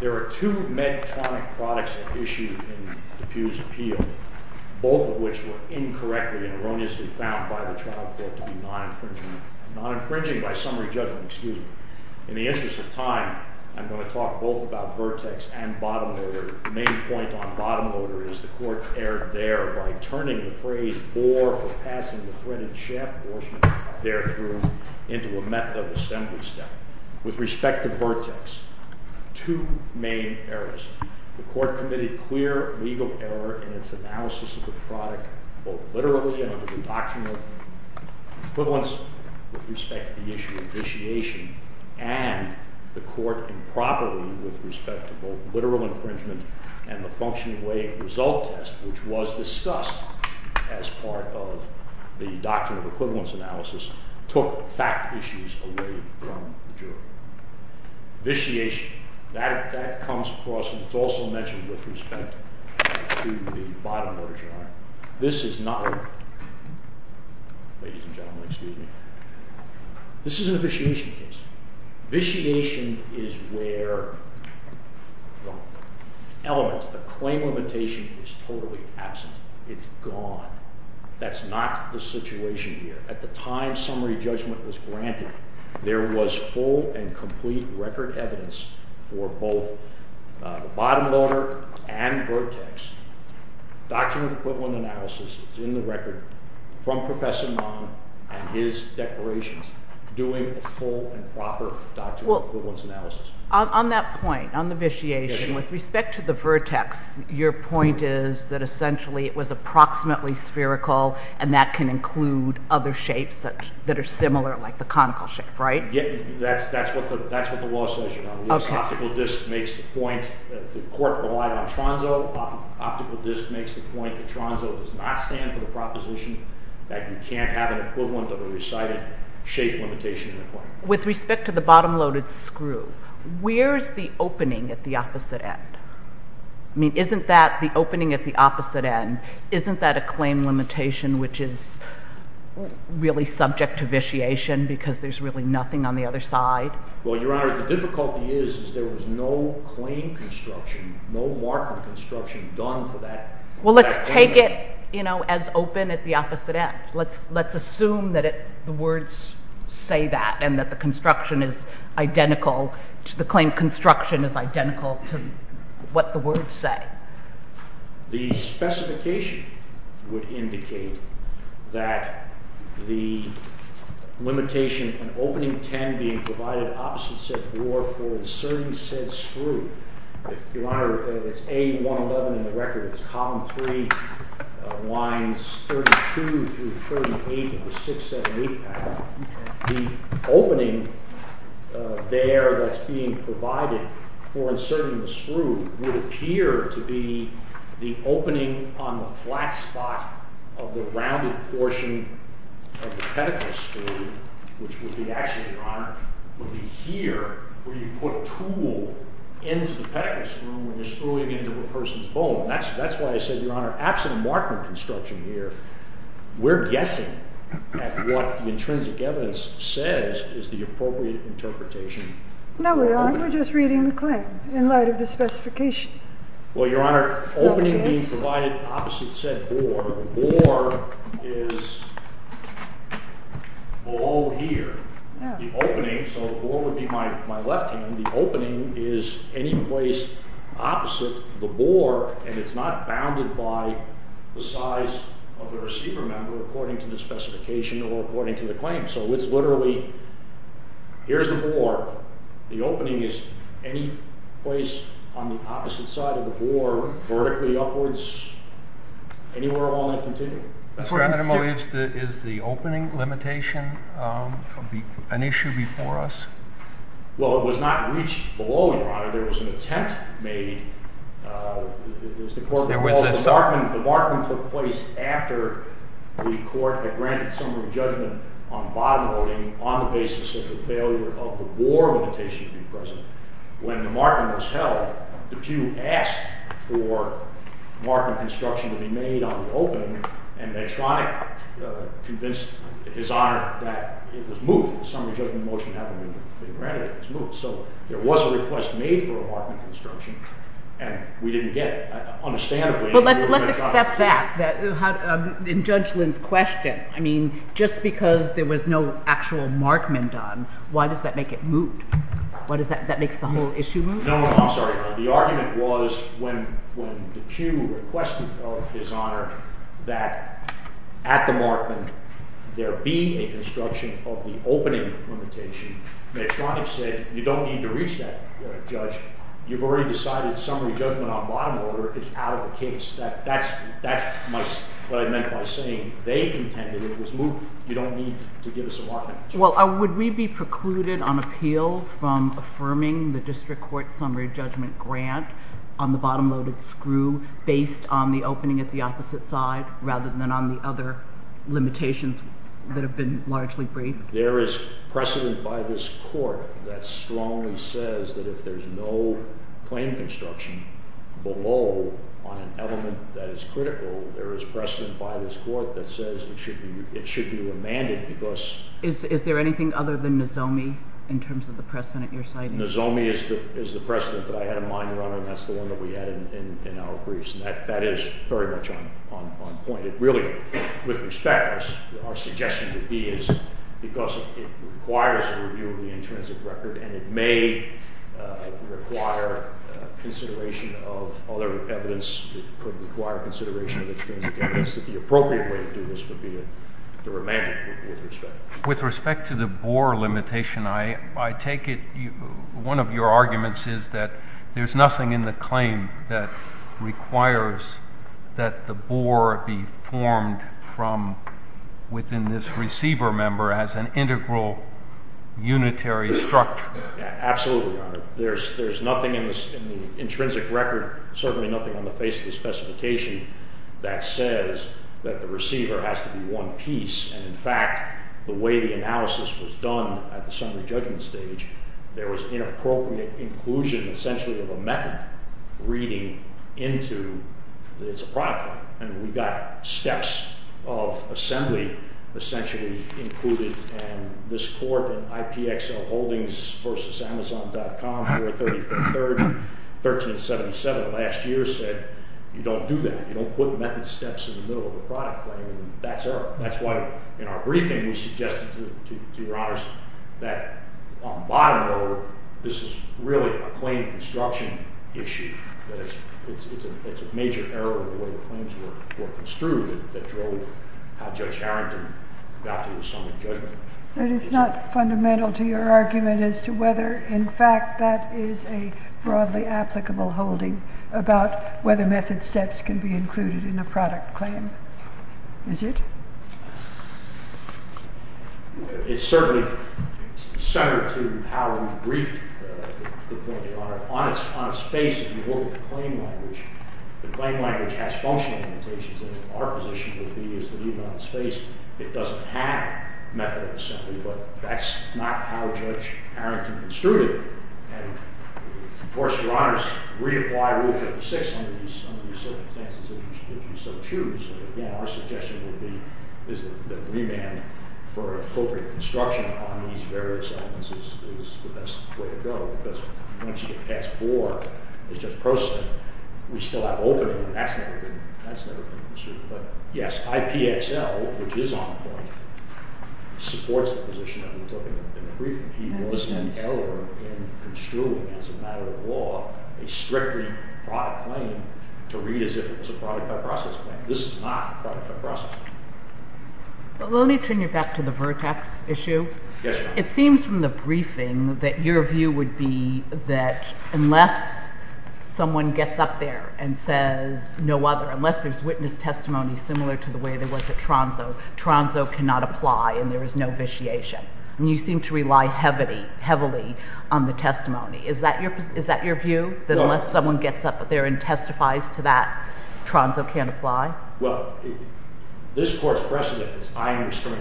There are two Medtronic products at issue in Depuy's appeal, both of which were incorrectly and erroneously found by the trial court to be non-infringing. Non-infringing, by summary judgment, excuse me. In the interest of time, I'm going to talk both about vertex and bottom loader. The main point on bottom loader is the court erred there by turning the phrase bore for passing the threaded shaft portion there through into a method of assembly step. With respect to vertex, two main errors. The court committed clear legal error in its analysis of the product, both literally and under the doctrinal equivalence with respect to the issue of vitiation, and the court improperly with respect to both literal infringement and the functioning weighing result test, which was discussed as part of the doctrinal equivalence analysis, took fact issues away from the jury. Vitiation, that comes across, and it's also mentioned with respect to the bottom loader jury. This is not, ladies and gentlemen, excuse me, this is a vitiation case. Vitiation is where the claim limitation is totally absent. It's gone. That's not the situation here. At the time summary judgment was granted, there was full and complete record evidence for both bottom loader and vertex doctrinal equivalent analysis, it's in the record, from Professor Mann and his declarations doing a full and proper doctrinal equivalence analysis. On that point, on the vitiation, with respect to the vertex, your point is that essentially it was approximately spherical and that can include other shapes that are similar, like the conical shape, right? That's what the law says. The court relied on tronzo. Optical disk makes the point that tronzo does not stand for the proposition that you can't have an equivalent of a recited shape limitation. With respect to the bottom loaded screw, where's the opening at the opposite end? I mean, isn't that the opening at the opposite end? Isn't that a claim limitation which is really subject to vitiation because there's really nothing on the other side? Well, Your Honor, the difficulty is, is there was no claim construction, no mark of construction done for that claim. Well, let's take it, you know, as open at the opposite end. Let's assume that the words say that and that the construction is identical, the claim construction is identical to what the words say. The specification would indicate that the limitation in opening 10 being provided opposite said drawer for inserting said screw, Your Honor, it's A111 in the record, it's Column 3, lines 32 through 38 of the 678 pattern. The opening there that's being provided for inserting the screw would appear to be the opening on the flat spot of the rounded portion of the pedicle screw, which would be actually, Your Honor, would be here where you put tool into the pedicle screw when you're screwing into a person's bone. That's why I said, Your Honor, absent a mark of construction here, we're guessing at what the intrinsic evidence says is the appropriate interpretation. No, we aren't. We're just reading the claim in light of the specification. Well, Your Honor, opening being provided opposite said bore, the bore is below here. The opening, so the bore would be my left hand, the opening is any place opposite the bore and it's not bounded by the size of the receiver member according to the specification or according to the claim. So it's literally, here's the bore, the opening is any place on the opposite side of the bore vertically upwards, anywhere along that continuum. Is the opening limitation an issue before us? Well, it was not reached below, Your Honor, there was an attempt made, as the court recalls, the Markman took place after the court had granted summary judgment on bottom loading on the basis of the failure of the bore limitation to be present. When the Markman was held, DePue asked for Markman construction to be made on the opening and Metronic convinced His Honor that it was moved, the summary judgment motion had been granted, it was moved. So there was a request made for a Markman construction and we didn't get it. But let's accept that, in Judge Lynn's question, I mean, just because there was no actual Markman done, why does that make it moot? That makes the whole issue moot? No, I'm sorry. The argument was when DePue requested of His Honor that at the Markman there be a construction of the opening limitation, Metronic said you don't need to reach that, Judge, you've already decided summary judgment on bottom loader, it's out of the case. That's what I meant by saying they contended it was moot, you don't need to give us a Markman. Well, would we be precluded on appeal from affirming the district court summary judgment grant on the bottom loaded screw based on the opening at the opposite side rather than on the other limitations that have been largely briefed? There is precedent by this court that strongly says that if there's no claim construction below on an element that is critical, there is precedent by this court that says it should be remanded because... Is there anything other than Nozomi in terms of the precedent you're citing? Nozomi is the precedent that I had in mind, Your Honor, and that's the one that we had in our briefs, and that is very much on point. It really, with respect, our suggestion would be is because it requires a review of the intrinsic record, and it may require consideration of other evidence that could require consideration of extrinsic evidence, that the appropriate way to do this would be to remand it with respect. With respect to the Bohr limitation, I take it one of your arguments is that there's nothing in the claim that requires that the Bohr be formed from within this receiver member as an integral, unitary structure? Absolutely, Your Honor. There's nothing in the intrinsic record, certainly nothing on the face of the specification that says that the receiver has to be one piece, and in fact, the way the analysis was done at the summary judgment stage, there was inappropriate inclusion, essentially, of a method reading into it's a product claim, and we got steps of assembly, essentially, included, and this court in IPXL Holdings v. Amazon.com, 4-34-13-77, last year, said you don't do that. You don't put method steps in the middle of a product claim, and that's why in our briefing we suggested to Your Honors that on the bottom row, this is really a claim construction issue, that it's a major error in the way the claims were construed that drove how Judge Harrington got to the summary judgment. But it's not fundamental to your argument as to whether, in fact, that is a broadly applicable holding about whether method steps can be included in a product claim, is it? It's certainly centered to how we briefed the point of your Honor. On a space, if you look at the claim language, the claim language has function limitations, and our position would be as the lead on the space, it doesn't have method of assembly, but that's not how Judge Harrington construed it. And of course, Your Honors, reapply Rule 56 under these circumstances, if you so choose. Again, our suggestion would be is that remand for appropriate construction on these various elements is the best way to go, because once you get past Bohr, as Judge Prost said, we still have opening, and that's never been construed. But yes, IPXL, which is on the point, supports the position that we took in the briefing. He was an error in construing, as a matter of law, a strictly product claim to read as if it was a product by process claim. This is not a product by process claim. Well, let me turn you back to the vertex issue. Yes, Your Honor. It seems from the briefing that your view would be that unless someone gets up there and says no other, unless there's witness testimony similar to the way there was at Tronso, Tronso cannot apply and there is no vitiation. And you seem to rely heavily on the testimony. Is that your view? No. Unless someone gets up there and testifies to that, Tronso can't apply? Well, this Court's precedent is eyeing restraint.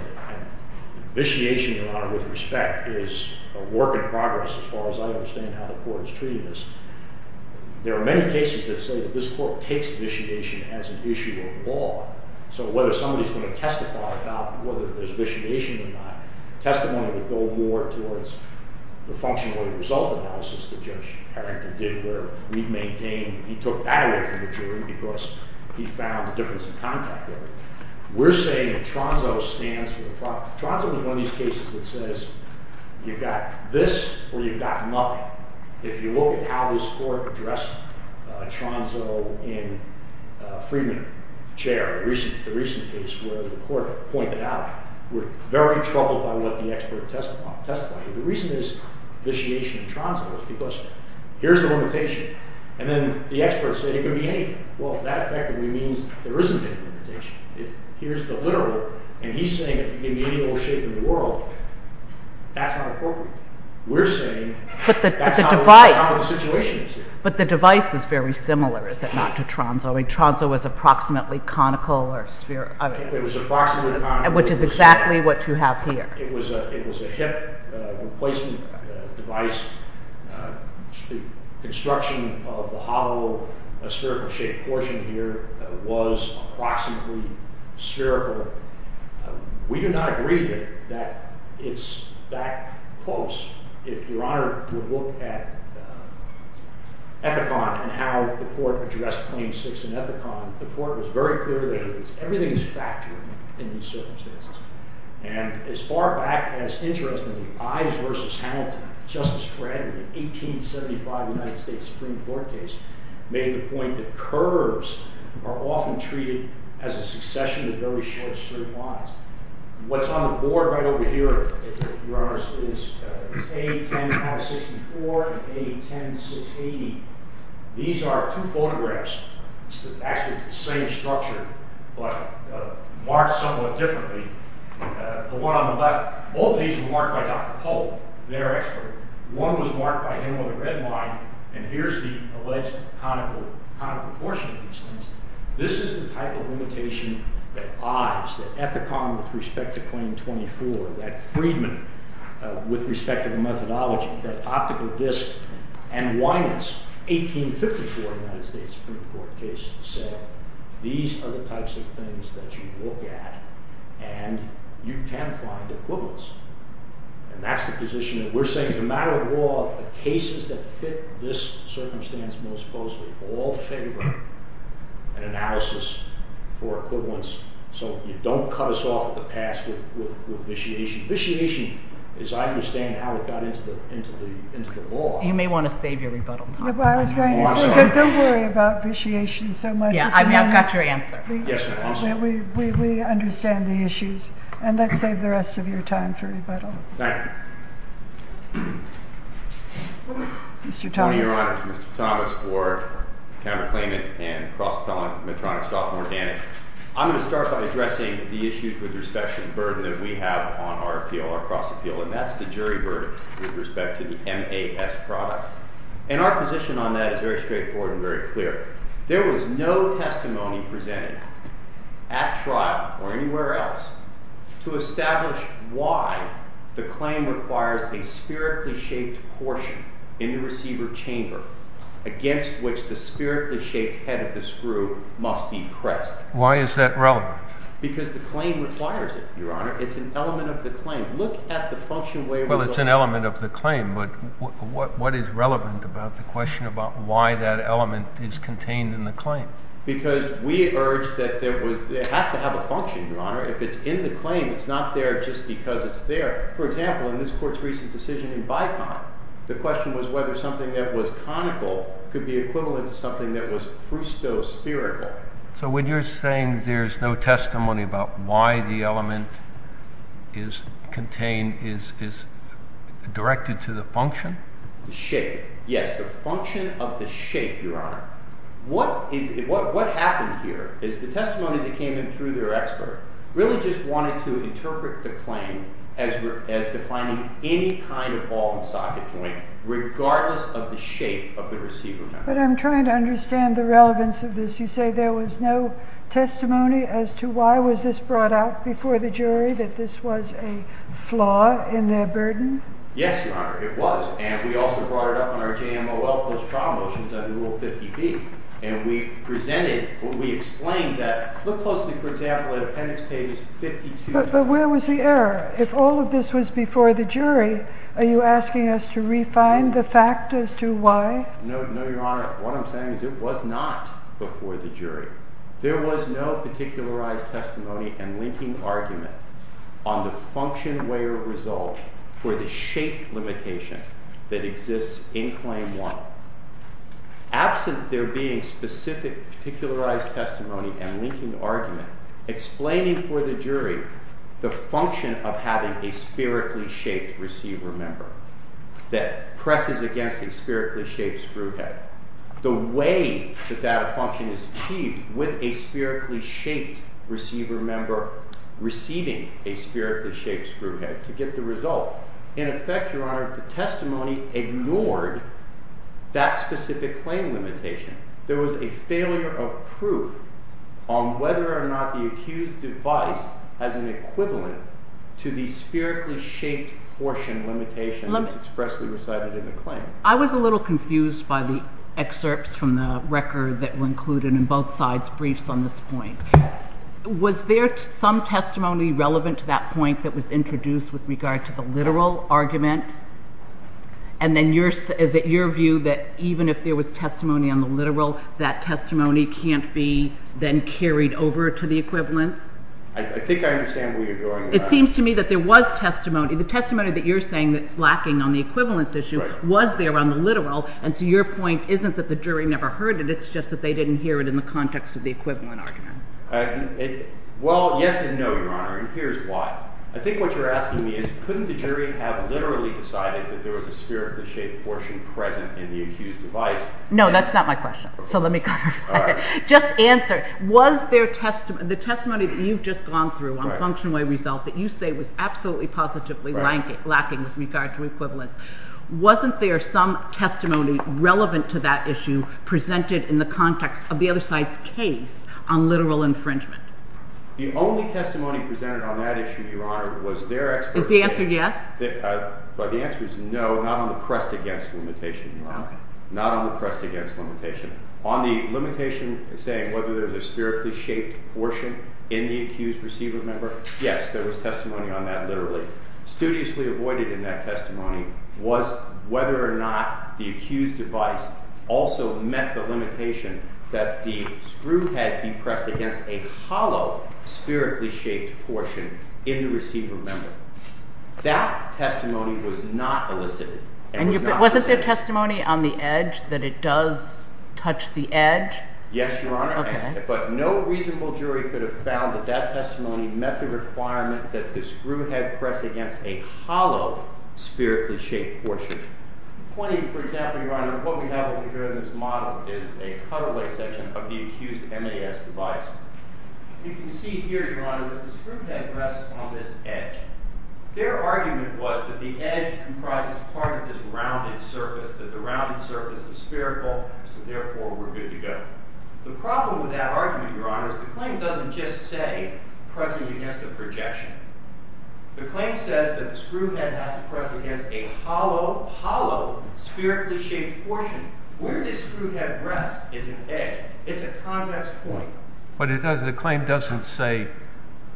Vitiation, Your Honor, with respect, is a work in progress as far as I understand how the Court is treating this. There are many cases that say that this Court takes vitiation as an issue of law. So whether somebody's going to testify about whether there's vitiation or not, testimony would go more towards the functionally result analysis that Judge Harrington did where we maintained he took that away from the jury because he found a difference in contact there. We're saying that Tronso stands for the product. Tronso is one of these cases that says you've got this or you've got nothing. If you look at how this Court addressed Tronso in Freedman, Chair, the recent case where the Court pointed out we're very troubled by what the expert testified. The reason there's vitiation in Tronso is because here's the limitation. And then the expert said it could be anything. Well, that effectively means there isn't any limitation. Here's the literal. And he's saying it can be any old shape in the world. That's not appropriate. We're saying that's not what the situation is here. But the device is very similar, is it not, to Tronso? I mean, Tronso was approximately conical or spherical. Which is exactly what you have here. It was a hip replacement device. The construction of the hollow spherical-shaped portion here was approximately spherical. We do not agree that it's that close. If you're honored to look at Ethicon and how the Court addressed Claim 6 in Ethicon, the Court was very clear that everything is factoring in these circumstances. And as far back as, interestingly, Ives v. Hamilton, Justice Fred, in the 1875 United States Supreme Court case, made the point that curves are often treated as a succession of very short straight lines. What's on the board right over here, Your Honors, is A10564 and A10680. These are two photographs. Actually, it's the same structure, but marked somewhat differently. The one on the left, both of these were marked by Dr. Polk, their expert. One was marked by him on the red line. And here's the alleged conical portion of these things. This is the type of limitation that Ives, that Ethicon with respect to Claim 24, that Friedman with respect to the methodology, that optical disk, and Winans, 1854 United States Supreme Court case, said these are the types of things that you look at and you can find equivalence. And that's the position that we're saying as a matter of law, the cases that fit this circumstance most closely all favor an analysis for equivalence. So you don't cut us off at the pass with vitiation. Vitiation, as I understand how it got into the law. You may want to save your rebuttal time. I was going to say, don't worry about vitiation so much. Yeah, I've got your answer. Yes, ma'am. We understand the issues. And let's save the rest of your time for rebuttals. Thank you. Mr. Thomas. Good morning, Your Honors. Mr. Thomas, Ward, counterclaimant, and cross-pellant Medtronic-Stockholm Organic. I'm going to start by addressing the issues with respect to the burden that we have on our appeal, our cross-appeal, and that's the jury verdict with respect to the MAS product. And our position on that is very straightforward and very clear. There was no testimony presented at trial or anywhere else to establish why the claim requires a spherically shaped portion in the receiver chamber against which the spherically shaped head of the screw must be pressed. Why is that relevant? Because the claim requires it, Your Honor. It's an element of the claim. Look at the function where it was on. Well, it's an element of the claim, but what is relevant about the question about why that element is contained in the claim? Because we urge that it has to have a function, Your Honor. If it's in the claim, it's not there just because it's there. For example, in this Court's recent decision in Bicon, the question was whether something that was conical could be equivalent to something that was frusto-spherical. So when you're saying there's no testimony about why the element is contained, is it directed to the function? The shape, yes. The function of the shape, Your Honor. What happened here is the testimony that came in through their expert really just wanted to interpret the claim as defining any kind of ball and socket joint regardless of the shape of the receiver. But I'm trying to understand the relevance of this. You say there was no testimony as to why was this brought out before the jury, that this was a flaw in their burden? Yes, Your Honor. It was. And we also brought it up in our JMOL post-trial motions under Rule 50B. And we presented or we explained that. Look closely, for example, at Appendix Page 52. But where was the error? If all of this was before the jury, are you asking us to refine the fact as to why? No, Your Honor. What I'm saying is it was not before the jury. There was no particularized testimony and linking argument on the function, way, or result for the shape limitation that exists in Claim 1. Absent there being specific particularized testimony and linking argument explaining for the jury the function of having a spherically shaped receiver member that presses against a spherically shaped screw head. The way that that function is achieved with a spherically shaped receiver member receiving a spherically shaped screw head to get the result. In effect, Your Honor, the testimony ignored that specific claim limitation. There was a failure of proof on whether or not the accused device has an equivalent to the spherically shaped portion limitation that's expressly recited in the claim. I was a little confused by the excerpts from the record that were included in both sides' briefs on this point. Was there some testimony relevant to that point that was introduced with regard to the literal argument? And then is it your view that even if there was testimony on the literal, that testimony can't be then carried over to the equivalent? I think I understand where you're going, Your Honor. It seems to me that there was testimony. The testimony that you're saying that's lacking on the equivalent issue was there on the literal, and so your point isn't that the jury never heard it. It's just that they didn't hear it in the context of the equivalent argument. Well, yes and no, Your Honor, and here's why. I think what you're asking me is couldn't the jury have literally decided that there was a spherically shaped portion present in the accused device? No, that's not my question, so let me clarify it. Just answer. The testimony that you've just gone through on function away result that you say was absolutely positively lacking with regard to equivalence, wasn't there some testimony relevant to that issue presented in the context of the other side's case on literal infringement? The only testimony presented on that issue, Your Honor, was their expert statement. Is the answer yes? The answer is no, not on the pressed against limitation, Your Honor. Not on the pressed against limitation. On the limitation saying whether there's a spherically shaped portion in the accused receiver member, yes, there was testimony on that literally. Studiously avoided in that testimony was whether or not the accused device also met the limitation that the screw had been pressed against a hollow spherically shaped portion in the receiver member. That testimony was not elicited. And wasn't there testimony on the edge that it does touch the edge? Yes, Your Honor, but no reasonable jury could have found that that testimony met the requirement that the screw had pressed against a hollow spherically shaped portion. Pointing, for example, Your Honor, what we have over here in this model is a cutaway section of the accused MAS device. You can see here, Your Honor, that the screw had pressed on this edge. Their argument was that the edge comprises part of this rounded surface, that the rounded surface is spherical, so therefore we're good to go. The problem with that argument, Your Honor, is the claim doesn't just say pressing against a projection. The claim says that the screw head has to press against a hollow, hollow spherically shaped portion. Where this screw head rests is an edge. It's a convex point. But the claim doesn't say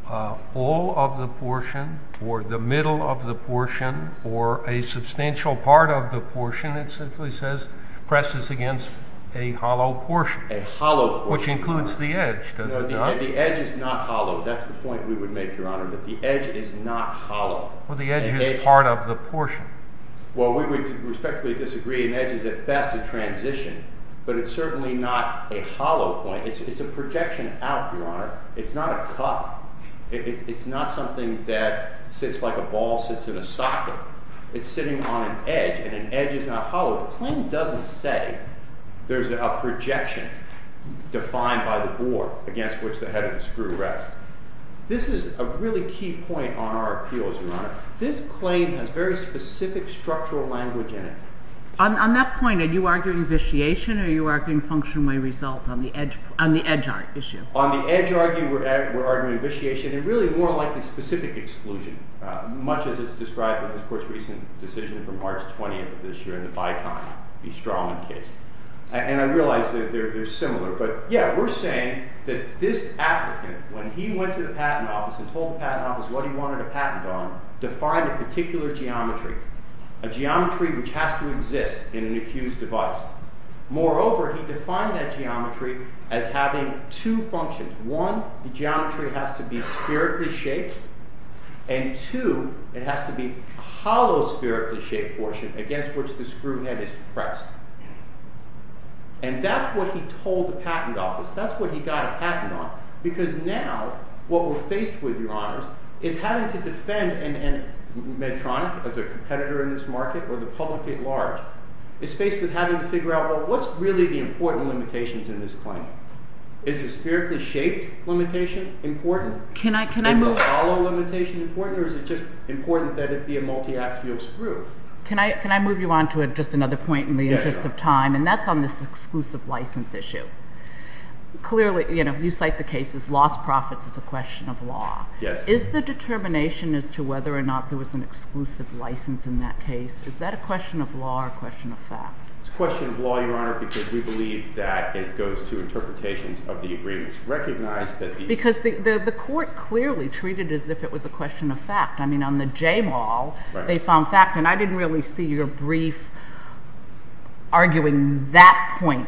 all of the portion or the middle of the portion or a substantial part of the portion. It simply says presses against a hollow portion. A hollow portion. Which includes the edge, does it not? No, the edge is not hollow. That's the point we would make, Your Honor, that the edge is not hollow. Well, the edge is part of the portion. Well, we would respectfully disagree. An edge is at best a transition, but it's certainly not a hollow point. It's a projection out, Your Honor. It's not a cup. It's not something that sits like a ball sits in a socket. It's sitting on an edge, and an edge is not hollow. The claim doesn't say there's a projection defined by the bore against which the head of the screw rests. This is a really key point on our appeals, Your Honor. This claim has very specific structural language in it. On that point, are you arguing vitiation, or are you arguing function may result on the edge issue? On the edge, we're arguing vitiation, and really more likely specific exclusion, much as it's described in this Court's recent decision from March 20th of this year in the Bicon v. Strauman case. And I realize they're similar. But, yeah, we're saying that this applicant, when he went to the patent office and told the patent office what he wanted a patent on, defined a particular geometry, a geometry which has to exist in an accused device. Moreover, he defined that geometry as having two functions. One, the geometry has to be spherically shaped, and two, it has to be a hollow spherically shaped portion against which the screw head is pressed. And that's what he told the patent office. That's what he got a patent on, because now what we're faced with, Your Honors, is having to defend Medtronic as their competitor in this market, or the public at large, is faced with having to figure out, well, what's really the important limitations in this claim? Is the spherically shaped limitation important? Is the hollow limitation important, or is it just important that it be a multiaxial screw? Can I move you on to just another point in the interest of time? Yes, Your Honor. And that's on this exclusive license issue. Clearly, you cite the case as lost profits as a question of law. Yes. Is the determination as to whether or not there was an exclusive license in that case, is that a question of law or a question of fact? It's a question of law, Your Honor, because we believe that it goes to interpretations of the agreements. Recognize that the... Because the court clearly treated it as if it was a question of fact. I mean, on the JMAL, they found fact, and I didn't really see your brief arguing that point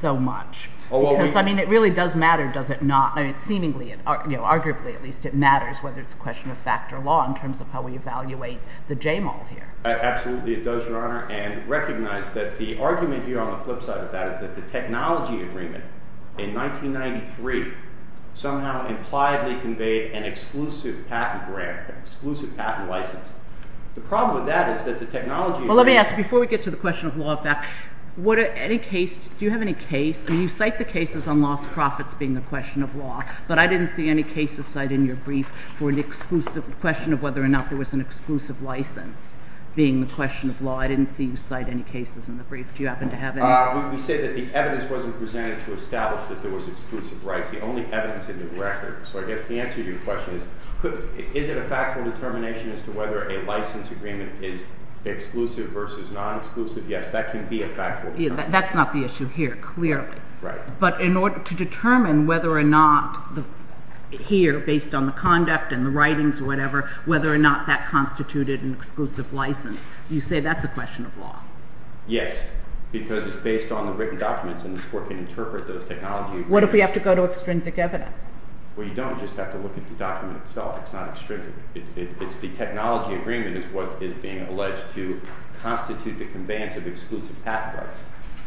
so much. Because, I mean, it really does matter, does it not? I mean, seemingly, arguably at least, it matters whether it's a question of fact or law in terms of how we evaluate the JMAL here. Absolutely, it does, Your Honor. And recognize that the argument here on the flip side of that is that the technology agreement in 1993 somehow impliedly conveyed an exclusive patent grant, an exclusive patent license. The problem with that is that the technology agreement... Well, let me ask, before we get to the question of law and fact, do you have any case? I mean, you cite the cases on lost profits being a question of law, but I didn't see any cases cite in your brief for an exclusive question of whether or not there was an exclusive license. Being the question of law, I didn't see you cite any cases in the brief. Do you happen to have any? We say that the evidence wasn't presented to establish that there was exclusive rights. The only evidence in the record. So I guess the answer to your question is, is it a factual determination as to whether a license agreement is exclusive versus non-exclusive? Yes, that can be a factual determination. That's not the issue here, clearly. Right. But in order to determine whether or not here, based on the conduct and the writings or whatever, whether or not that constituted an exclusive license, you say that's a question of law. Yes, because it's based on the written documents and the court can interpret those technology agreements. What if we have to go to extrinsic evidence? Well, you don't just have to look at the document itself. It's not extrinsic. It's the technology agreement is what is being alleged to constitute the conveyance of exclusive patent rights.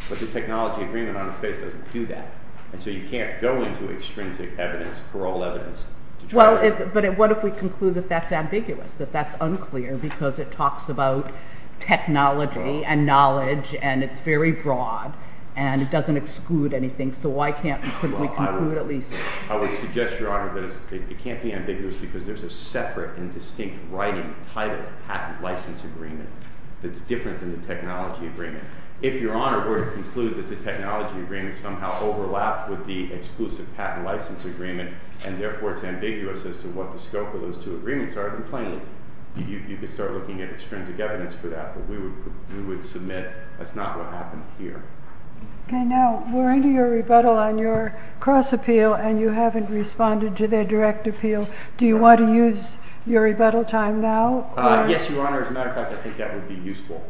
But the technology agreement on its face doesn't do that. And so you can't go into extrinsic evidence, parole evidence. Well, but what if we conclude that that's ambiguous, that that's unclear because it talks about technology and knowledge and it's very broad and it doesn't exclude anything. So why can't we conclude at least that? I would suggest, Your Honor, that it can't be ambiguous because there's a separate and distinct writing titled patent license agreement that's different than the technology agreement. If Your Honor were to conclude that the technology agreement somehow overlapped with the exclusive patent license agreement and therefore it's ambiguous as to what the scope of those two agreements are, then plainly, you could start looking at extrinsic evidence for that. But we would submit that's not what happened here. Okay, now we're into your rebuttal on your cross-appeal and you haven't responded to their direct appeal. Do you want to use your rebuttal time now? Yes, Your Honor. As a matter of fact, I think that would be useful.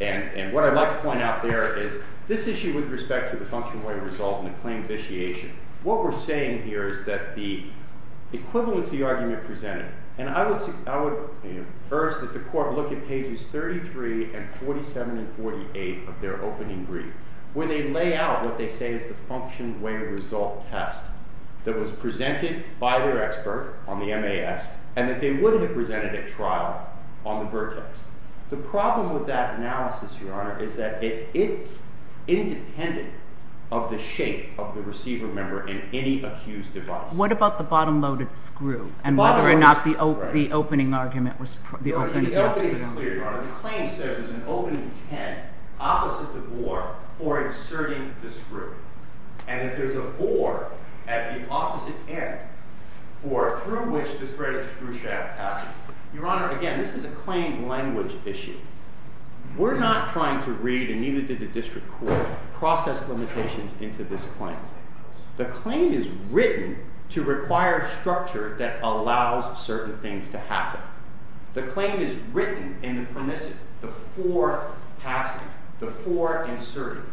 And what I'd like to point out there is this issue with respect to the functional way of resolving a claim vitiation, what we're saying here is that the equivalency argument presented, and I would urge that the court look at pages 33 and 47 and 48 of their opening brief, where they lay out what they say is the function way of result test that was presented by their expert on the MAS and that they would have presented at trial on the vertex. The problem with that analysis, Your Honor, is that it's independent of the shape of the receiver member in any accused device. What about the bottom-loaded screw? The bottom-loaded screw, right. And whether or not the opening argument was... The opening is clear, Your Honor. The claim says there's an opening ten opposite the bore for inserting the screw. And if there's a bore at the opposite end for through which the threaded screw shaft passes, Your Honor, again, this is a claim language issue. We're not trying to read, and neither did the district court, process limitations into this claim. The claim is written to require structure that allows certain things to happen. The claim is written in the permissive, the fore-passing, the fore-inserting.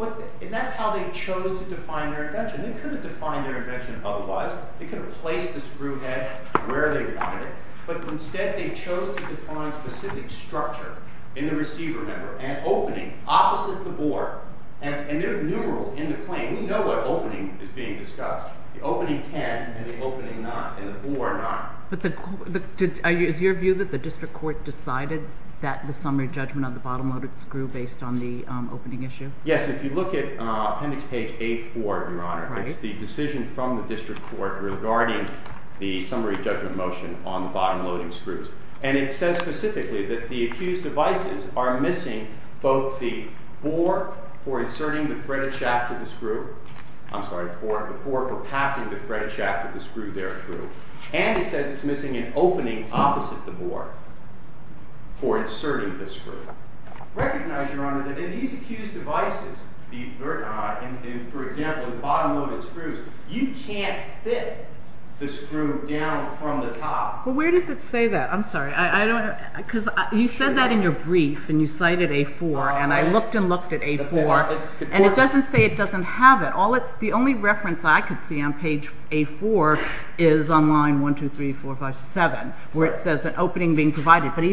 And that's how they chose to define their invention. They couldn't define their invention otherwise. They could have placed the screw head where they wanted it, but instead they chose to define specific structure in the receiver member, an opening opposite the bore. And there are numerals in the claim. We know what opening is being discussed. The opening ten and the opening nine, and the bore nine. But is your view that the district court decided that the summary judgment on the bottom-loaded screw based on the opening issue? Yes, if you look at appendix page 8-4, Your Honor, it's the decision from the district court regarding the summary judgment motion on the bottom-loading screws. And it says specifically that the accused devices are missing both the bore for inserting the threaded shaft to the screw. I'm sorry, the bore for passing the threaded shaft to the screw there through. And it says it's missing an opening opposite the bore for inserting the screw. Recognize, Your Honor, that in these accused devices, for example, the bottom-loaded screws, you can't fit the screw down from the top. Well, where does it say that? I'm sorry. Because you said that in your brief. And you cited 8-4. And I looked and looked at 8-4. And it doesn't say it doesn't have it. The only reference I could see on page 8-4 is on line 1, 2, 3, 4, 5, 7, where it says an opening being provided. But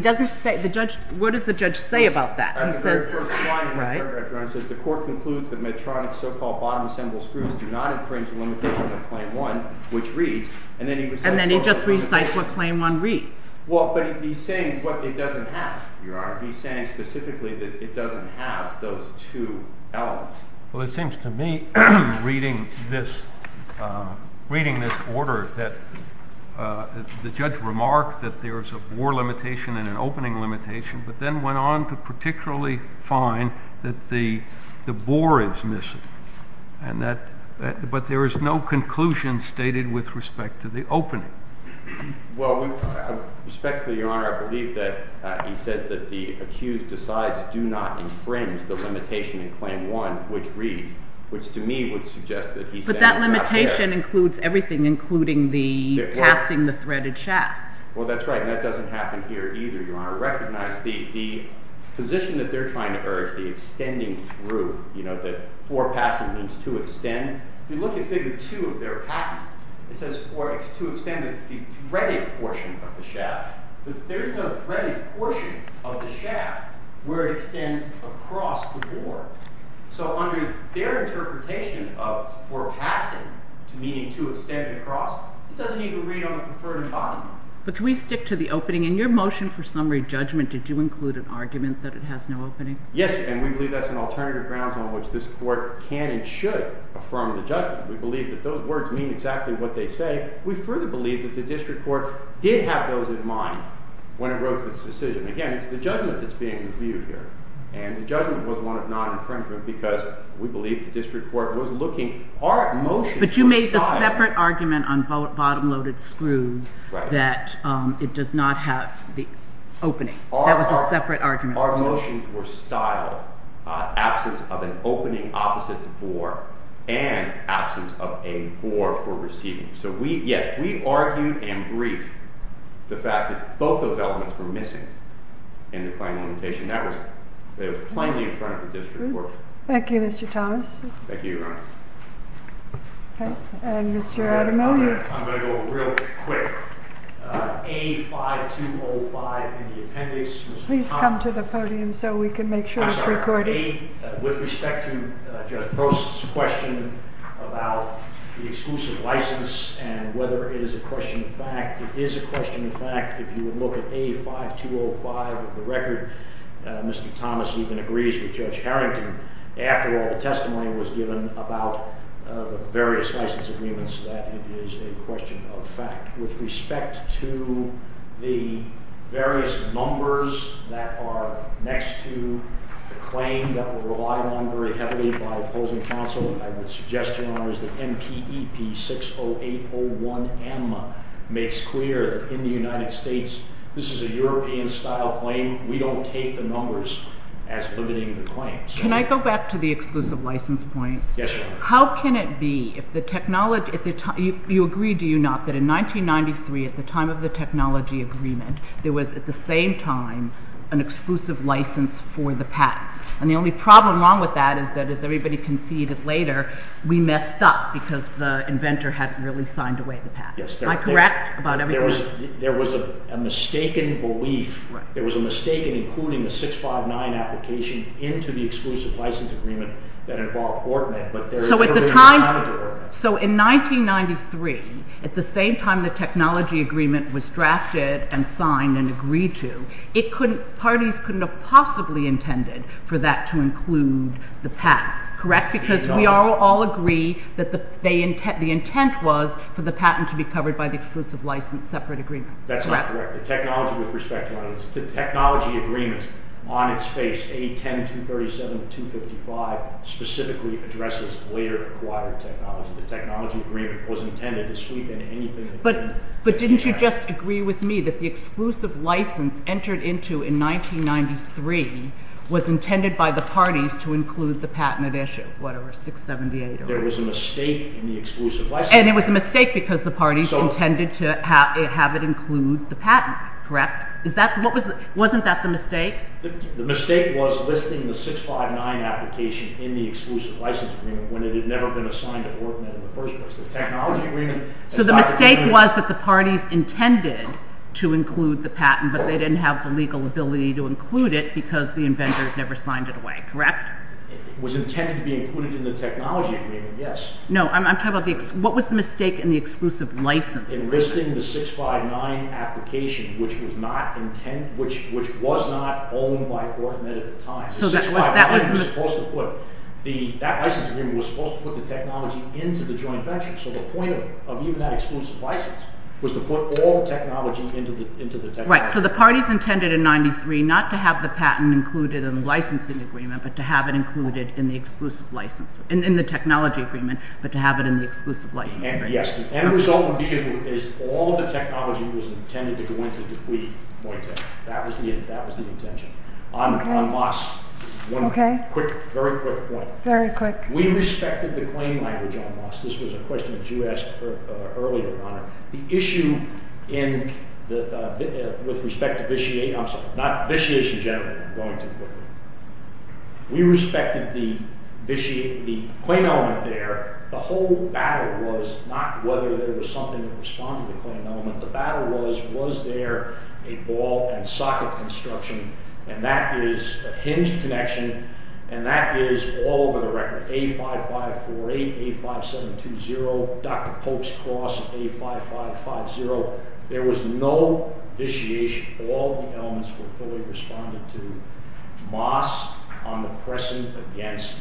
what does the judge say about that? On the very first slide, Your Honor, it says the court concludes that Medtronic's so-called bottom-assembled screws do not infringe the limitation of claim one, which reads. And then he just recites what claim one reads. Well, but he's saying what it doesn't have. Your Honor, he's saying specifically that it doesn't have those two elements. Well, it seems to me, reading this order, that the judge remarked that there is a bore limitation and an opening limitation, but then went on to particularly find that the bore is missing. But there is no conclusion stated with respect to the opening. Well, respectfully, Your Honor, I believe that he says that the accused decides do not infringe the limitation in claim one, which reads, which to me would suggest that he's saying it's not there. But that limitation includes everything, including passing the threaded shaft. Well, that's right. And that doesn't happen here either, Your Honor. Recognize the position that they're trying to urge, the extending through, that for passing means to extend. If you look at figure two of their patent, it says for it's to extend the threaded portion of the shaft. But there's no threaded portion of the shaft where it extends across the bore. So under their interpretation of for passing, meaning to extend it across, it doesn't even read on the preferred embodiment. But do we stick to the opening? In your motion for summary judgment, did you include an argument that it has no opening? Yes, and we believe that's an alternative grounds on which this court can and should affirm the judgment. We believe that those words mean exactly what they say. We further believe that the district court did have those in mind when it wrote this decision. Again, it's the judgment that's being reviewed here. And the judgment was one of non-infringement because we believe the district court was looking, our motions were styled. But you made the separate argument on bottom-loaded screws that it does not have the opening. That was a separate argument. Our motions were styled. Absence of an opening opposite the bore and absence of a bore for receiving. So yes, we argued and briefed the fact that both those elements were missing in the claim limitation. That was plainly in front of the district court. Thank you, Mr. Thomas. Thank you, Your Honor. And Mr. Adamo? I'm going to go real quick. A5205 in the appendix. Please come to the podium so we can make sure it's recorded. I'm sorry. With respect to Judge Post's question about the exclusive license and whether it is a question of fact, it is a question of fact. If you would look at A5205 of the record, Mr. Thomas even agrees with Judge Harrington. After all, the testimony was given about the various license agreements that it is a question of fact. With respect to the various numbers that are next to the claim that were relied on very heavily by opposing counsel, I would suggest, Your Honors, that MPEP-60801M makes clear that in the United States, this is a European-style claim. We don't take the numbers as limiting the claims. Can I go back to the exclusive license points? Yes, Your Honor. How can it be if the technology, if you agree, do you not, that in 1993, at the time of the technology agreement, there was, at the same time, an exclusive license for the patent? And the only problem along with that is that, as everybody conceded later, we messed up because the inventor hadn't really signed away the patent. Am I correct about everything? There was a mistaken belief, there was a mistake in including the 659 application into the exclusive license agreement that involved Ortman, but there is evidence that it was signed to Ortman. So in 1993, at the same time the technology agreement was drafted and signed and agreed to, it couldn't, parties couldn't have possibly intended for that to include the patent. Correct? Because we all agree that the intent was for the patent to be covered by the exclusive license separate agreement. That's not correct. The technology, with respect, Your Honor, the technology agreement on its face, 810-237-255, specifically addresses later acquired technology. The technology agreement was intended to sweep in anything. But didn't you just agree with me that the exclusive license entered into in 1993 was intended by the parties to include the patent at issue? Whatever, 678 or whatever. There was a mistake in the exclusive license. And it was a mistake because the parties intended to have it include the patent. Correct? Wasn't that the mistake? The mistake was listing the 659 application in the exclusive license agreement when it had never been assigned a coordinate in the first place. The technology agreement... So the mistake was that the parties intended to include the patent, but they didn't have the legal ability to include it because the inventor never signed it away. Correct? It was intended to be included in the technology agreement, yes. No, I'm talking about the, what was the mistake in the exclusive license? In listing the 659 application, which was not owned by OrchMed at the time. The 659 was supposed to put, that license agreement was supposed to put the technology into the joint venture. So the point of even that exclusive license was to put all the technology into the technology agreement. Right. So the parties intended in 93 not to have the patent included in the licensing agreement, but to have it included in the exclusive license, in the technology agreement, but to have it in the exclusive licensing agreement. Yes. The end result would be all of the technology was intended to go into the DuPuy joint venture. That was the intention. On Moss, one quick, very quick point. Very quick. We respected the claim language on Moss. This was a question that you asked earlier, Honor. The issue with respect to Vitiate, I'm sorry, not Vitiate in general, I'm going too quickly. We respected the claim element there. The whole battle was not whether there was something that responded to the claim element. The battle was, was there a ball and socket construction, and that is a hinged connection, and that is all over the record. A5548, A5720, Dr. Pope's Cross, A5550. There was no Vitiate. All the elements were fully responded to. Moss, I'm pressing against.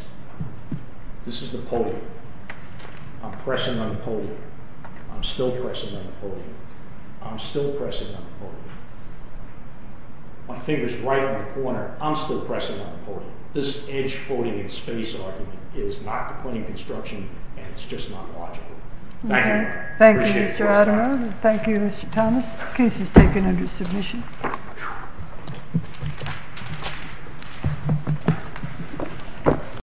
This is the podium. I'm pressing on the podium. I'm still pressing on the podium. I'm still pressing on the podium. My finger's right on the corner. I'm still pressing on the podium. This hinged podium in space argument is not the point of construction, and it's just not logical. Thank you. Thank you, Mr. Adamer. Thank you, Mr. Thomas. The case is taken under submission.